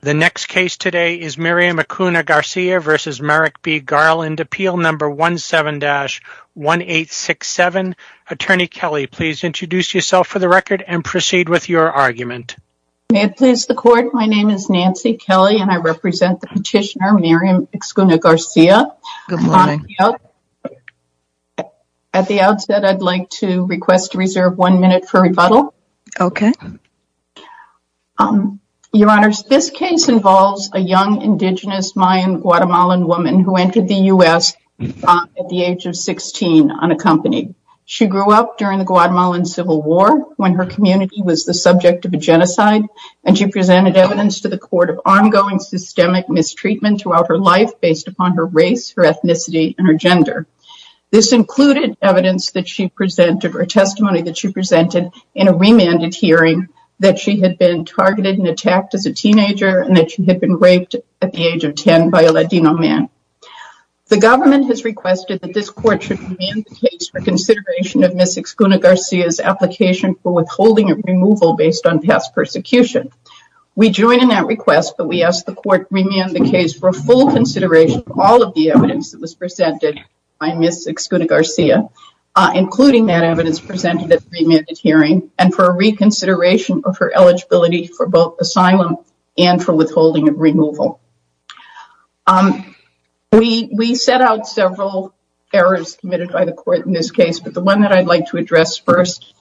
The next case today is Miriam Ixcuna-Garcia v. Merrick B. Garland, Appeal No. 17-1867. Attorney Kelly, please introduce yourself for the record and proceed with your argument. May it please the Court, my name is Nancy Kelly and I represent the petitioner Miriam Ixcuna-Garcia. Good morning. At the outset, I'd like to request to reserve one minute for rebuttal. Okay. Your Honor, this case involves a young indigenous Mayan Guatemalan woman who entered the U.S. at the age of 16 unaccompanied. She grew up during the Guatemalan Civil War when her community was the subject of a genocide and she presented evidence to the court of ongoing systemic mistreatment throughout her life based upon her race, her ethnicity, and her gender. This included evidence that she presented or testimony that she presented in a remanded hearing that she had been targeted and attacked as a teenager and that she had been raped at the age of 10 by a Latino man. The government has requested that this court should remand the case for consideration of Ms. Ixcuna-Garcia's application for withholding of removal based on past persecution. We join in that request, but we ask the court to remand the case for a full consideration of all of the evidence that was presented by Ms. Ixcuna-Garcia, including that evidence presented at the remanded hearing, and for a reconsideration of her eligibility for both asylum and for withholding of removal. We set out several errors committed by the court in this case, but the one that I'd like to address first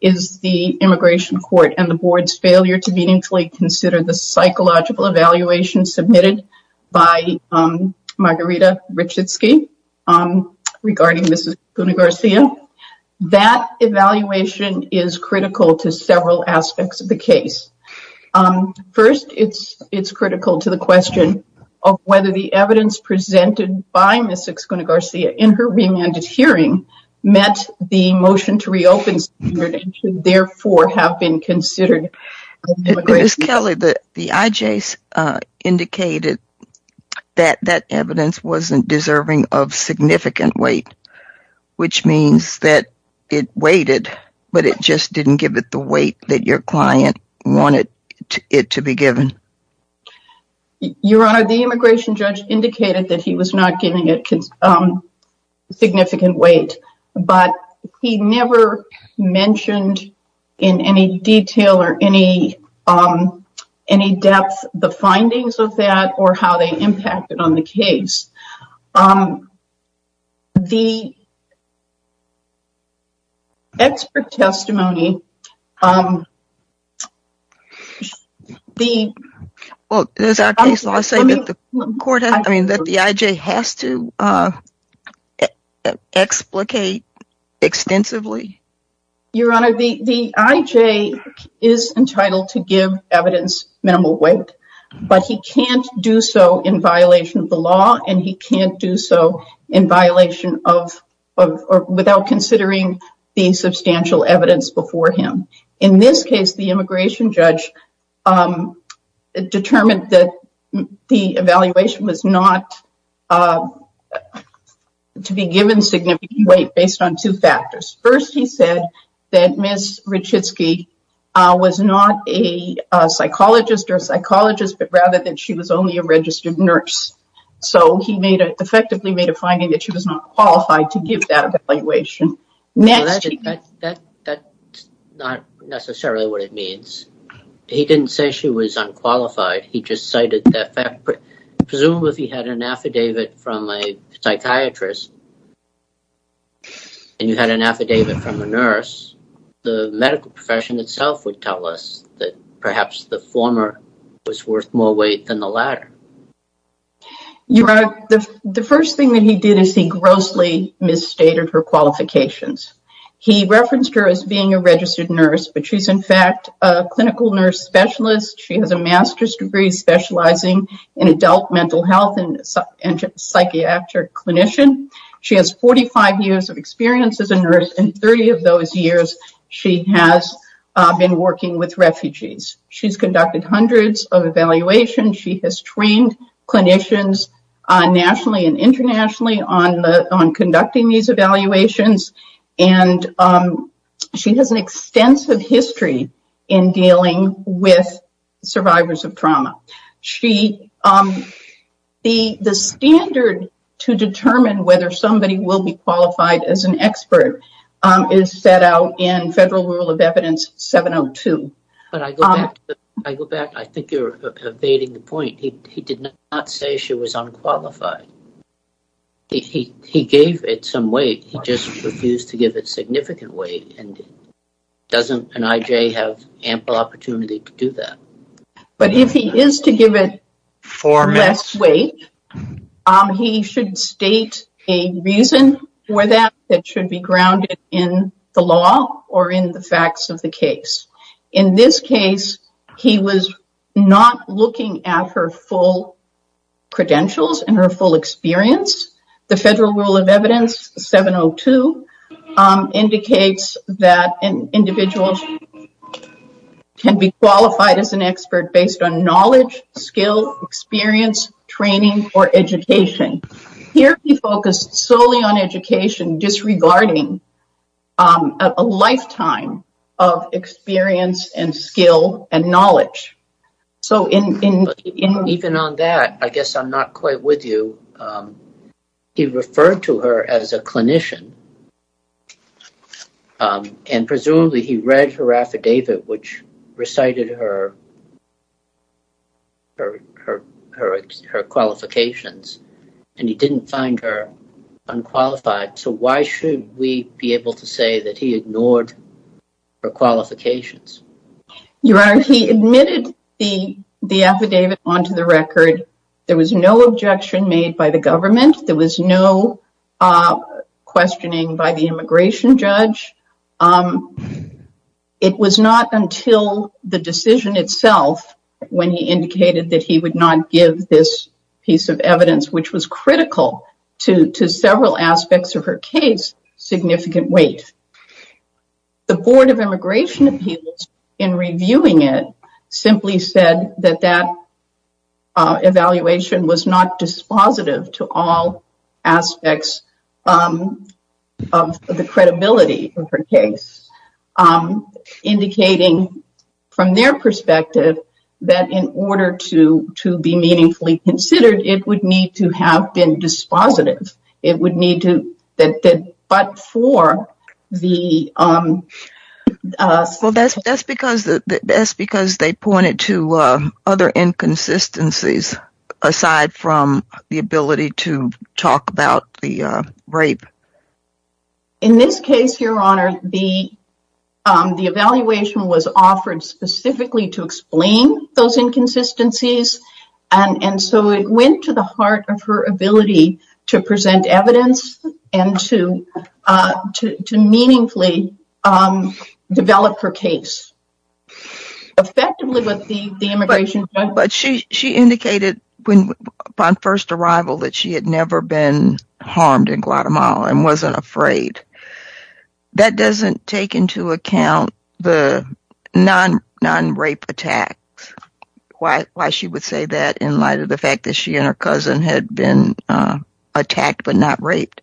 is the immigration court and the board's failure to meaningfully consider the psychological evaluation submitted by Margarita Richitsky regarding Ms. Ixcuna-Garcia. That evaluation is critical to several aspects of the case. First, it's critical to the question of whether the evidence presented by Ms. Ixcuna-Garcia in her remanded hearing met the motion to reopen and should therefore have been considered. Ms. Kelly, the IJS indicated that that evidence wasn't deserving of significant weight, which means that it weighted, but it just didn't give it the weight that your client wanted it to be given. Your Honor, the immigration judge indicated that he was not giving it significant weight, but he never mentioned in any detail or any depth the findings of that or how they impacted on the case. The expert testimony... Well, does our case law say that the IJS has to explicate extensively? Your Honor, the IJS is entitled to give evidence minimal weight, but he can't do so in violation of the law and he can't do so without considering the substantial evidence before him. In this case, the immigration judge determined that the evaluation was not to be given significant weight based on two factors. First, he said that Ms. Richitsky was not a psychologist or a psychologist, but rather that she was only a registered nurse. So he effectively made a finding that she was not qualified to give that evaluation. That's not necessarily what it means. He didn't say she was unqualified. Presumably, if he had an affidavit from a psychiatrist and you had an affidavit from a nurse, the medical profession itself would tell us that perhaps the former was worth more weight than the latter. Your Honor, the first thing that he did is he grossly misstated her qualifications. He referenced her as being a registered nurse, but she's in fact a clinical nurse specialist. She has a master's degree specializing in adult mental health and psychiatric clinician. She has 45 years of experience as a nurse and 30 of those years she has been working with refugees. She's conducted hundreds of evaluations. She has trained clinicians nationally and internationally on conducting these evaluations. She has an extensive history in dealing with survivors of trauma. The standard to determine whether somebody will be qualified as an expert is set out in Federal Rule of Evidence 702. But I go back. I think you're evading the point. He did not say she was unqualified. He gave it some weight. He just refused to give it significant weight. And doesn't an IJ have ample opportunity to do that? But if he is to give it less weight, he should state a reason for that that should be grounded in the law or in the facts of the case. In this case, he was not looking at her full credentials and her full experience. The Federal Rule of Evidence 702 indicates that an individual can be qualified as an expert based on knowledge, skill, experience, training or education. Here, he focused solely on education, disregarding a lifetime of experience and skill and knowledge. Even on that, I guess I'm not quite with you. He referred to her as a clinician and presumably he read her affidavit, which recited her qualifications, and he didn't find her unqualified. So why should we be able to say that he ignored her qualifications? Your Honor, he admitted the affidavit onto the record. There was no objection made by the government. There was no questioning by the immigration judge. It was not until the decision itself when he indicated that he would not give this piece of evidence, which was critical to several aspects of her case, significant weight. The Board of Immigration Appeals, in reviewing it, simply said that that evaluation was not dispositive to all aspects of the credibility of her case, indicating from their perspective that in order to be meaningfully considered, it would need to have been dispositive. It would need to, but for the... Well, that's because they pointed to other inconsistencies aside from the ability to talk about the rape. In this case, Your Honor, the evaluation was offered specifically to explain those inconsistencies. And so it went to the heart of her ability to present evidence and to meaningfully develop her case effectively with the immigration judge. But she indicated upon first arrival that she had never been harmed in Guatemala and wasn't afraid. That doesn't take into account the non-rape attacks. Why she would say that in light of the fact that she and her cousin had been attacked but not raped.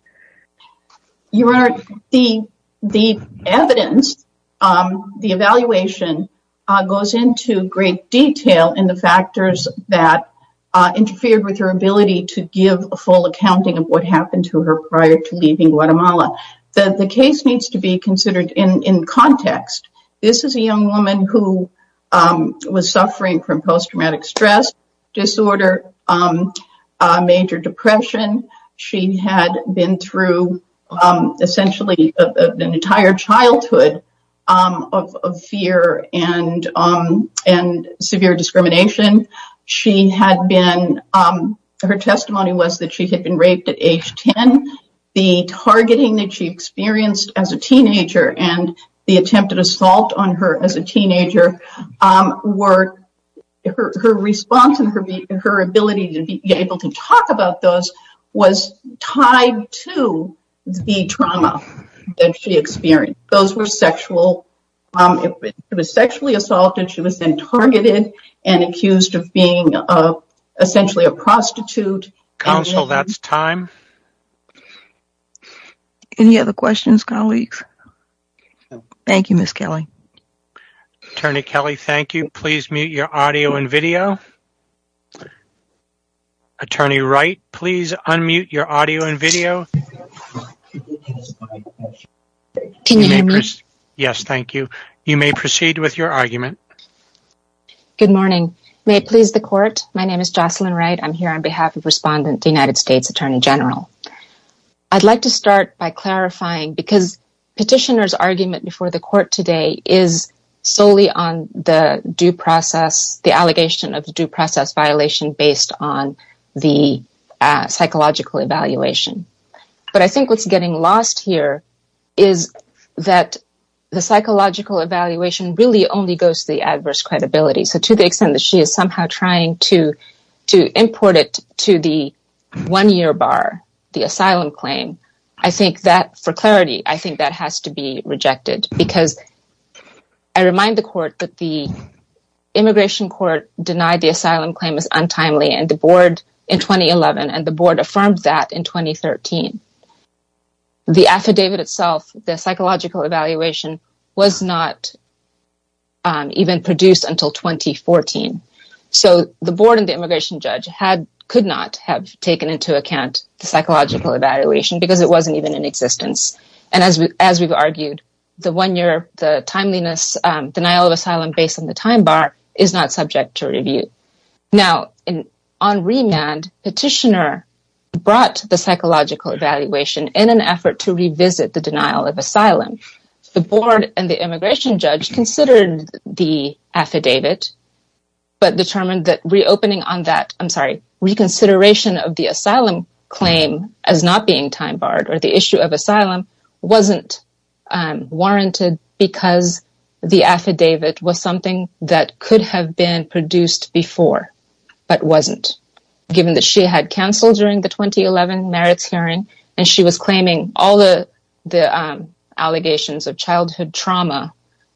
Your Honor, the evidence, the evaluation, goes into great detail in the factors that interfered with her ability to give a full accounting of what happened to her prior to leaving Guatemala. The case needs to be considered in context. This is a young woman who was suffering from post-traumatic stress disorder, major depression. She had been through essentially an entire childhood of fear and severe discrimination. Her testimony was that she had been raped at age 10. The targeting that she experienced as a teenager and the attempted assault on her as a teenager, her response and her ability to be able to talk about those was tied to the trauma that she experienced. Those were sexual. She was sexually assaulted. She was then targeted and accused of being essentially a prostitute. Counsel, that's time. Any other questions, colleagues? Thank you, Ms. Kelly. Attorney Kelly, thank you. Please mute your audio and video. Attorney Wright, please unmute your audio and video. Can you hear me? Yes, thank you. You may proceed with your argument. Good morning. May it please the Court, my name is Jocelyn Wright. I'm here on behalf of Respondent, the United States Attorney General. I'd like to start by clarifying because Petitioner's argument before the Court today is solely on the due process, the allegation of the due process violation based on the psychological evaluation. But I think what's getting lost here is that the psychological evaluation really only goes to the adverse credibility. So to the extent that she is somehow trying to import it to the one-year bar, the asylum claim, I think that, for clarity, I think that has to be rejected. Because I remind the Court that the Immigration Court denied the asylum claim as untimely, and the Board in 2011, and the Board affirmed that in 2013. The affidavit itself, the psychological evaluation, was not even produced until 2014. So the Board and the Immigration Judge could not have taken into account the psychological evaluation because it wasn't even in existence. And as we've argued, the one-year, the timeliness, denial of asylum based on the time bar is not subject to review. Now, on remand, Petitioner brought the psychological evaluation in an effort to revisit the denial of asylum. The Board and the Immigration Judge considered the affidavit, but determined that reopening on that, I'm sorry, reconsideration of the asylum claim as not being time barred, or the issue of asylum, wasn't warranted because the affidavit was something that could have been produced before, but wasn't. Given that she had cancelled during the 2011 merits hearing, and she was claiming all the allegations of childhood trauma,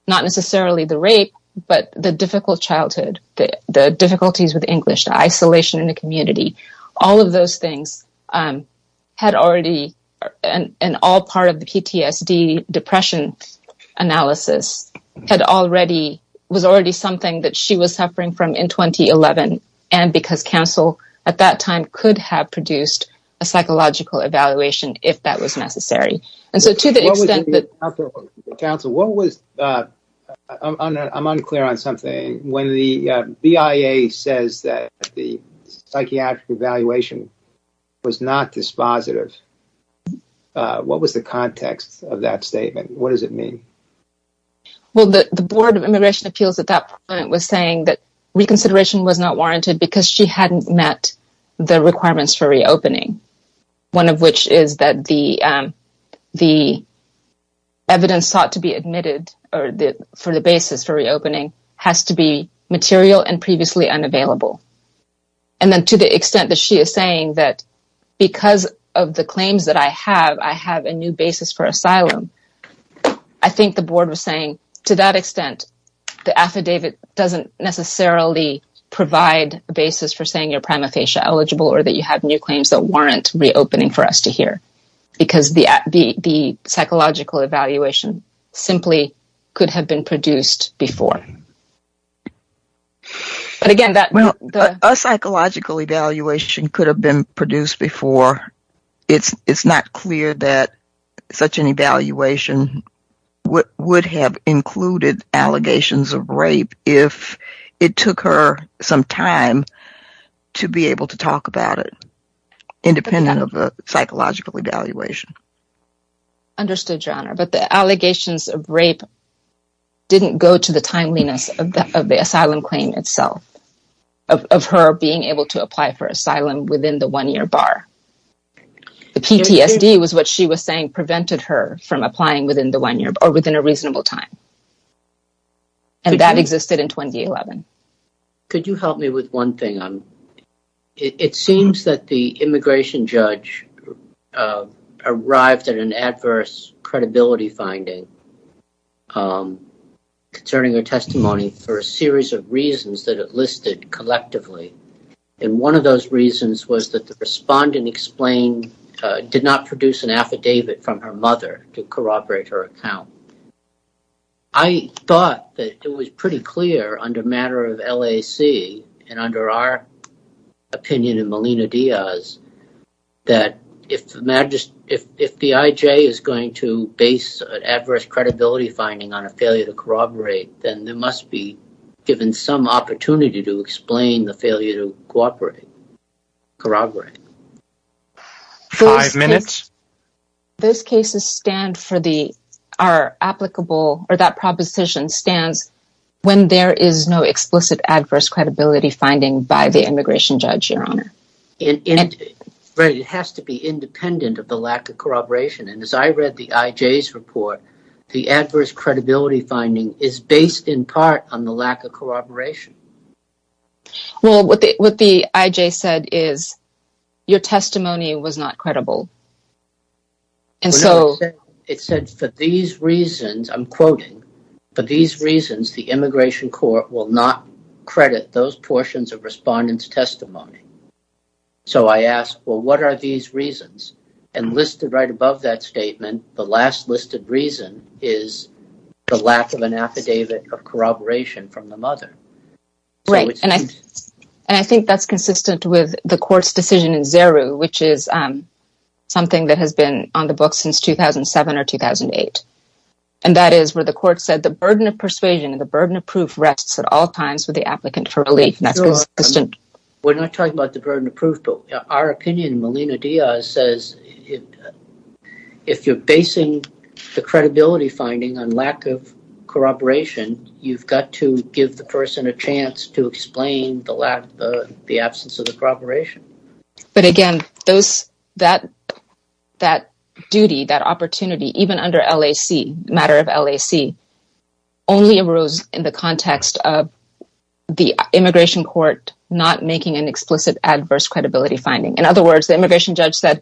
not necessarily the rape, but the difficult childhood, the difficulties with English, the isolation in the community, all of those things had already, and all part of the PTSD depression analysis, had already, was already something that she was suffering from in 2011, and because counsel at that time could have produced a psychological evaluation if that was necessary. I'm unclear on something. When the BIA says that the psychiatric evaluation was not dispositive, what was the context of that statement? What does it mean? Well, the Board of Immigration Appeals at that point was saying that reconsideration was not warranted because she hadn't met the requirements for reopening. One of which is that the evidence sought to be admitted for the basis for reopening has to be material and previously unavailable. And then to the extent that she is saying that because of the claims that I have, I have a new basis for asylum, I think the Board was saying to that extent, the affidavit doesn't necessarily provide a basis for saying you're prima facie eligible or that you have new claims that warrant reopening for us to hear. Because the psychological evaluation simply could have been produced before. But again, that... Well, a psychological evaluation could have been produced before. It's not clear that such an evaluation would have included allegations of rape if it took her some time to be able to talk about it, independent of a psychological evaluation. Understood, Your Honor. But the allegations of rape didn't go to the timeliness of the asylum claim itself, of her being able to apply for asylum within the one-year bar. The PTSD was what she was saying prevented her from applying within the one year or within a reasonable time. And that existed in 2011. Could you help me with one thing? It seems that the immigration judge arrived at an adverse credibility finding concerning her testimony for a series of reasons that it listed collectively. And one of those reasons was that the respondent explained, did not produce an affidavit from her mother to corroborate her account. I thought that it was pretty clear under matter of LAC and under our opinion in Melina Diaz that if the IJ is going to base an adverse credibility finding on a failure to corroborate, then there must be given some opportunity to explain the failure to corroborate. Five minutes. Those cases are applicable, or that proposition stands, when there is no explicit adverse credibility finding by the immigration judge, Your Honor. It has to be independent of the lack of corroboration. And as I read the IJ's report, the adverse credibility finding is based in part on the lack of corroboration. Well, what the IJ said is, your testimony was not credible. It said, for these reasons, I'm quoting, for these reasons, the immigration court will not credit those portions of respondent's testimony. So I asked, well, what are these reasons? And listed right above that statement, the last listed reason is the lack of an affidavit of corroboration from the mother. Right. And I think that's consistent with the court's decision in Zeru, which is something that has been on the books since 2007 or 2008. And that is where the court said the burden of persuasion and the burden of proof rests at all times with the applicant for relief. We're not talking about the burden of proof, but our opinion in Melina Diaz says, if you're basing the credibility finding on lack of corroboration, you've got to give the person a chance to explain the absence of the corroboration. But again, that duty, that opportunity, even under LAC, matter of LAC, only arose in the context of the immigration court not making an explicit adverse credibility finding. In other words, the immigration judge said,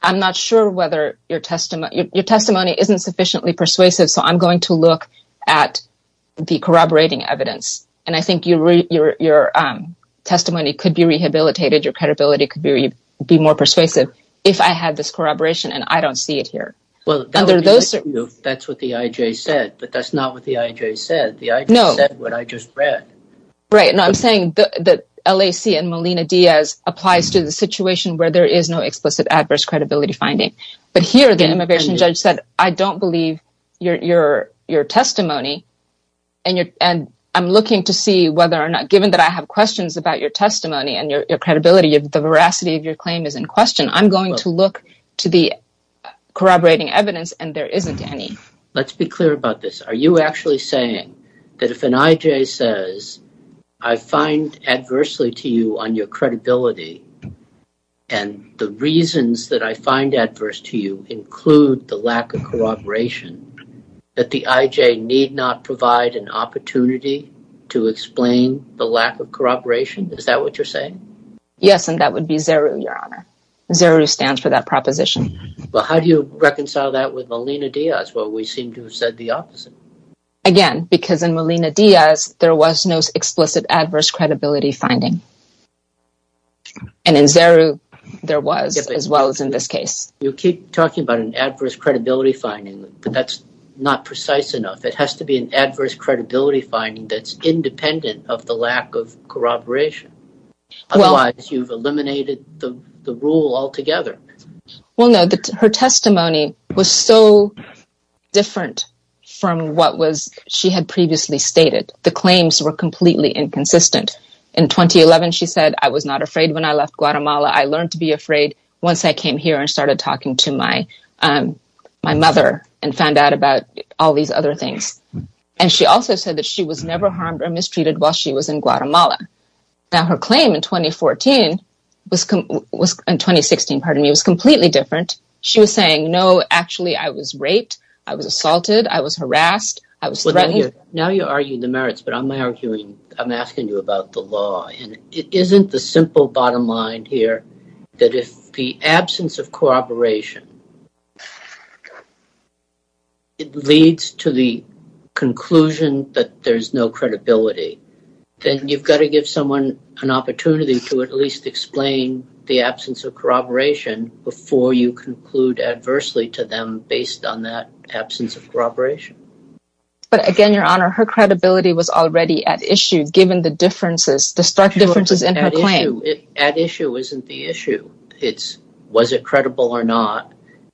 I'm not sure whether your testimony, isn't sufficiently persuasive, so I'm going to look at the corroborating evidence. And I think your testimony could be rehabilitated. Your credibility could be more persuasive if I had this corroboration and I don't see it here. Well, that's what the IJ said, but that's not what the IJ said. The IJ said what I just read. Right. And I'm saying that LAC and Melina Diaz applies to the situation where there is no explicit adverse credibility finding. But here the immigration judge said, I don't believe your testimony. And I'm looking to see whether or not, given that I have questions about your testimony and your credibility, the veracity of your claim is in question. I'm going to look to the corroborating evidence and there isn't any. Let's be clear about this. Are you actually saying that if an IJ says, I find adversely to you on your credibility and the reasons that I find adverse to you include the lack of corroboration, that the IJ need not provide an opportunity to explain the lack of corroboration? Is that what you're saying? Yes, and that would be ZERU, Your Honor. ZERU stands for that proposition. Well, how do you reconcile that with Melina Diaz? Well, we seem to have said the opposite. Again, because in Melina Diaz, there was no explicit adverse credibility finding. And in ZERU, there was, as well as in this case. You keep talking about an adverse credibility finding, but that's not precise enough. It has to be an adverse credibility finding that's independent of the lack of corroboration. Otherwise, you've eliminated the rule altogether. Well, no, her testimony was so different from what she had previously stated. The claims were completely inconsistent. In 2011, she said, I was not afraid when I left Guatemala. I learned to be afraid once I came here and started talking to my mother and found out about all these other things. And she also said that she was never harmed or mistreated while she was in Guatemala. Now, her claim in 2016 was completely different. She was saying, no, actually, I was raped. I was assaulted. I was harassed. I was threatened. Now you argue the merits, but I'm asking you about the law. It isn't the simple bottom line here that if the absence of corroboration leads to the conclusion that there's no credibility, then you've got to give someone an opportunity to at least explain the absence of corroboration before you conclude adversely to them based on that absence of corroboration. But again, Your Honor, her credibility was already at issue, given the stark differences in her claim. At issue isn't the issue. It's was it credible or not.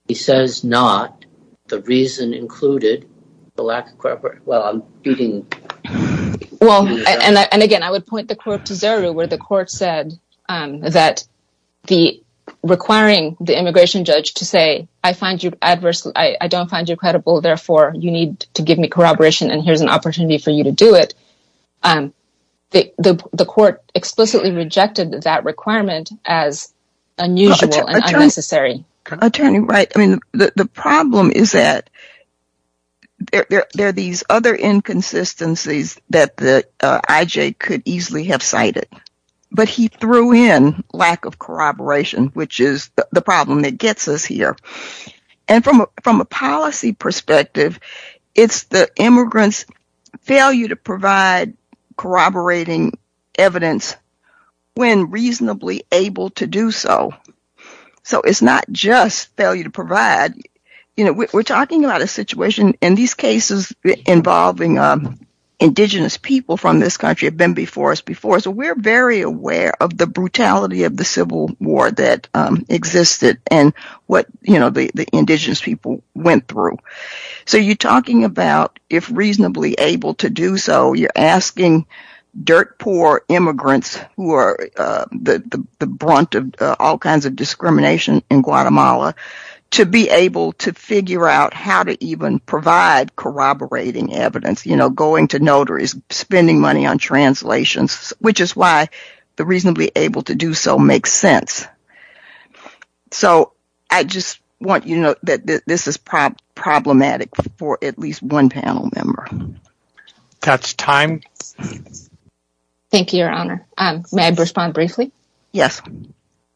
He says not. The reason included the lack of corroboration. Well, and again, I would point the court to Zeru, where the court said that requiring the immigration judge to say, I don't find you credible, therefore you need to give me corroboration and here's an opportunity for you to do it. The court explicitly rejected that requirement as unusual and unnecessary. Attorney Wright, I mean, the problem is that there are these other inconsistencies that the IJ could easily have cited. But he threw in lack of corroboration, which is the problem that gets us here. And from a policy perspective, it's the immigrants' failure to provide corroborating evidence when reasonably able to do so. So it's not just failure to provide. You know, we're talking about a situation in these cases involving indigenous people from this country have been before us before. So we're very aware of the brutality of the civil war that existed and what the indigenous people went through. So you're talking about if reasonably able to do so, you're asking dirt poor immigrants who are the brunt of all kinds of discrimination in Guatemala to be able to figure out how to even provide corroborating evidence. You know, going to notaries, spending money on translations, which is why the reasonably able to do so makes sense. So I just want you to know that this is problematic for at least one panel member. That's time. Thank you, Your Honor. May I respond briefly? Yes.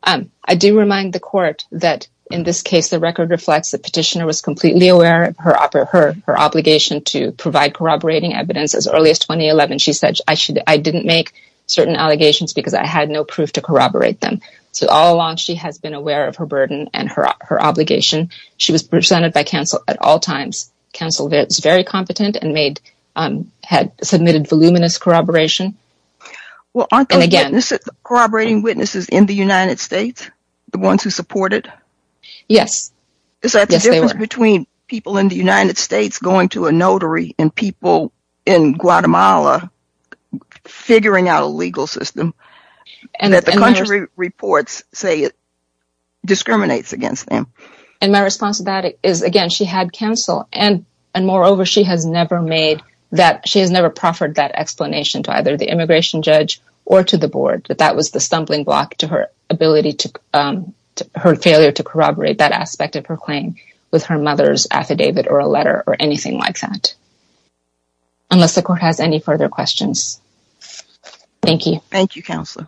I do remind the court that in this case, the record reflects the petitioner was completely aware of her obligation to provide corroborating evidence as early as 2011. She said, I didn't make certain allegations because I had no proof to corroborate them. But all along, she has been aware of her burden and her obligation. She was presented by counsel at all times. Counsel was very competent and had submitted voluminous corroboration. Well, aren't there corroborating witnesses in the United States? The ones who support it? Yes. Is that the difference between people in the United States going to a notary and people in Guatemala figuring out a legal system? And that the contrary reports say it discriminates against them. And my response to that is, again, she had counsel. And moreover, she has never made that – she has never proffered that explanation to either the immigration judge or to the board, that that was the stumbling block to her ability to – her failure to corroborate that aspect of her claim with her mother's affidavit or a letter or anything like that. Unless the court has any further questions. Thank you. Thank you, counsel.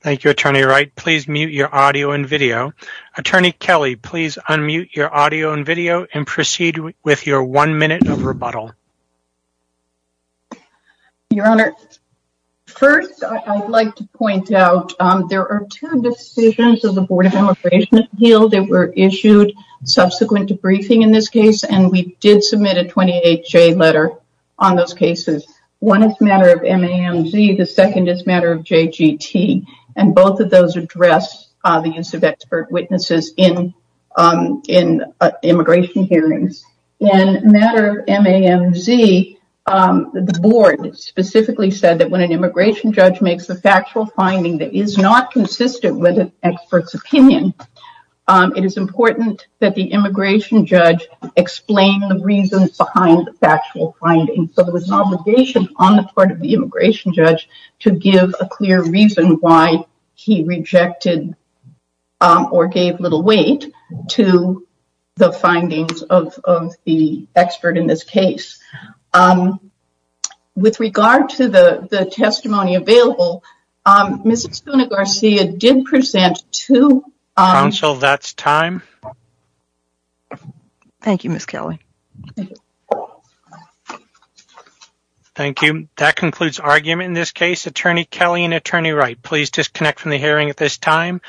Thank you, Attorney Wright. Please mute your audio and video. Attorney Kelly, please unmute your audio and video and proceed with your one minute of rebuttal. Your Honor, first I'd like to point out there are two decisions of the Board of Immigration that were issued subsequent to briefing in this case. And we did submit a 28-J letter on those cases. One is a matter of MAMZ. The second is a matter of JGT. And both of those address the use of expert witnesses in immigration hearings. In a matter of MAMZ, the board specifically said that when an immigration judge makes a factual finding that is not consistent with an expert's opinion, it is important that the immigration judge explain the reasons behind the factual finding. So there was an obligation on the part of the immigration judge to give a clear reason why he rejected or gave little weight to the findings of the expert in this case. With regard to the testimony available, Ms. Espuna-Garcia did present to... Counsel, that's time. Thank you, Ms. Kelly. Thank you. Thank you. That concludes argument in this case. Attorney Kelly and Attorney Wright, please disconnect from the hearing at this time.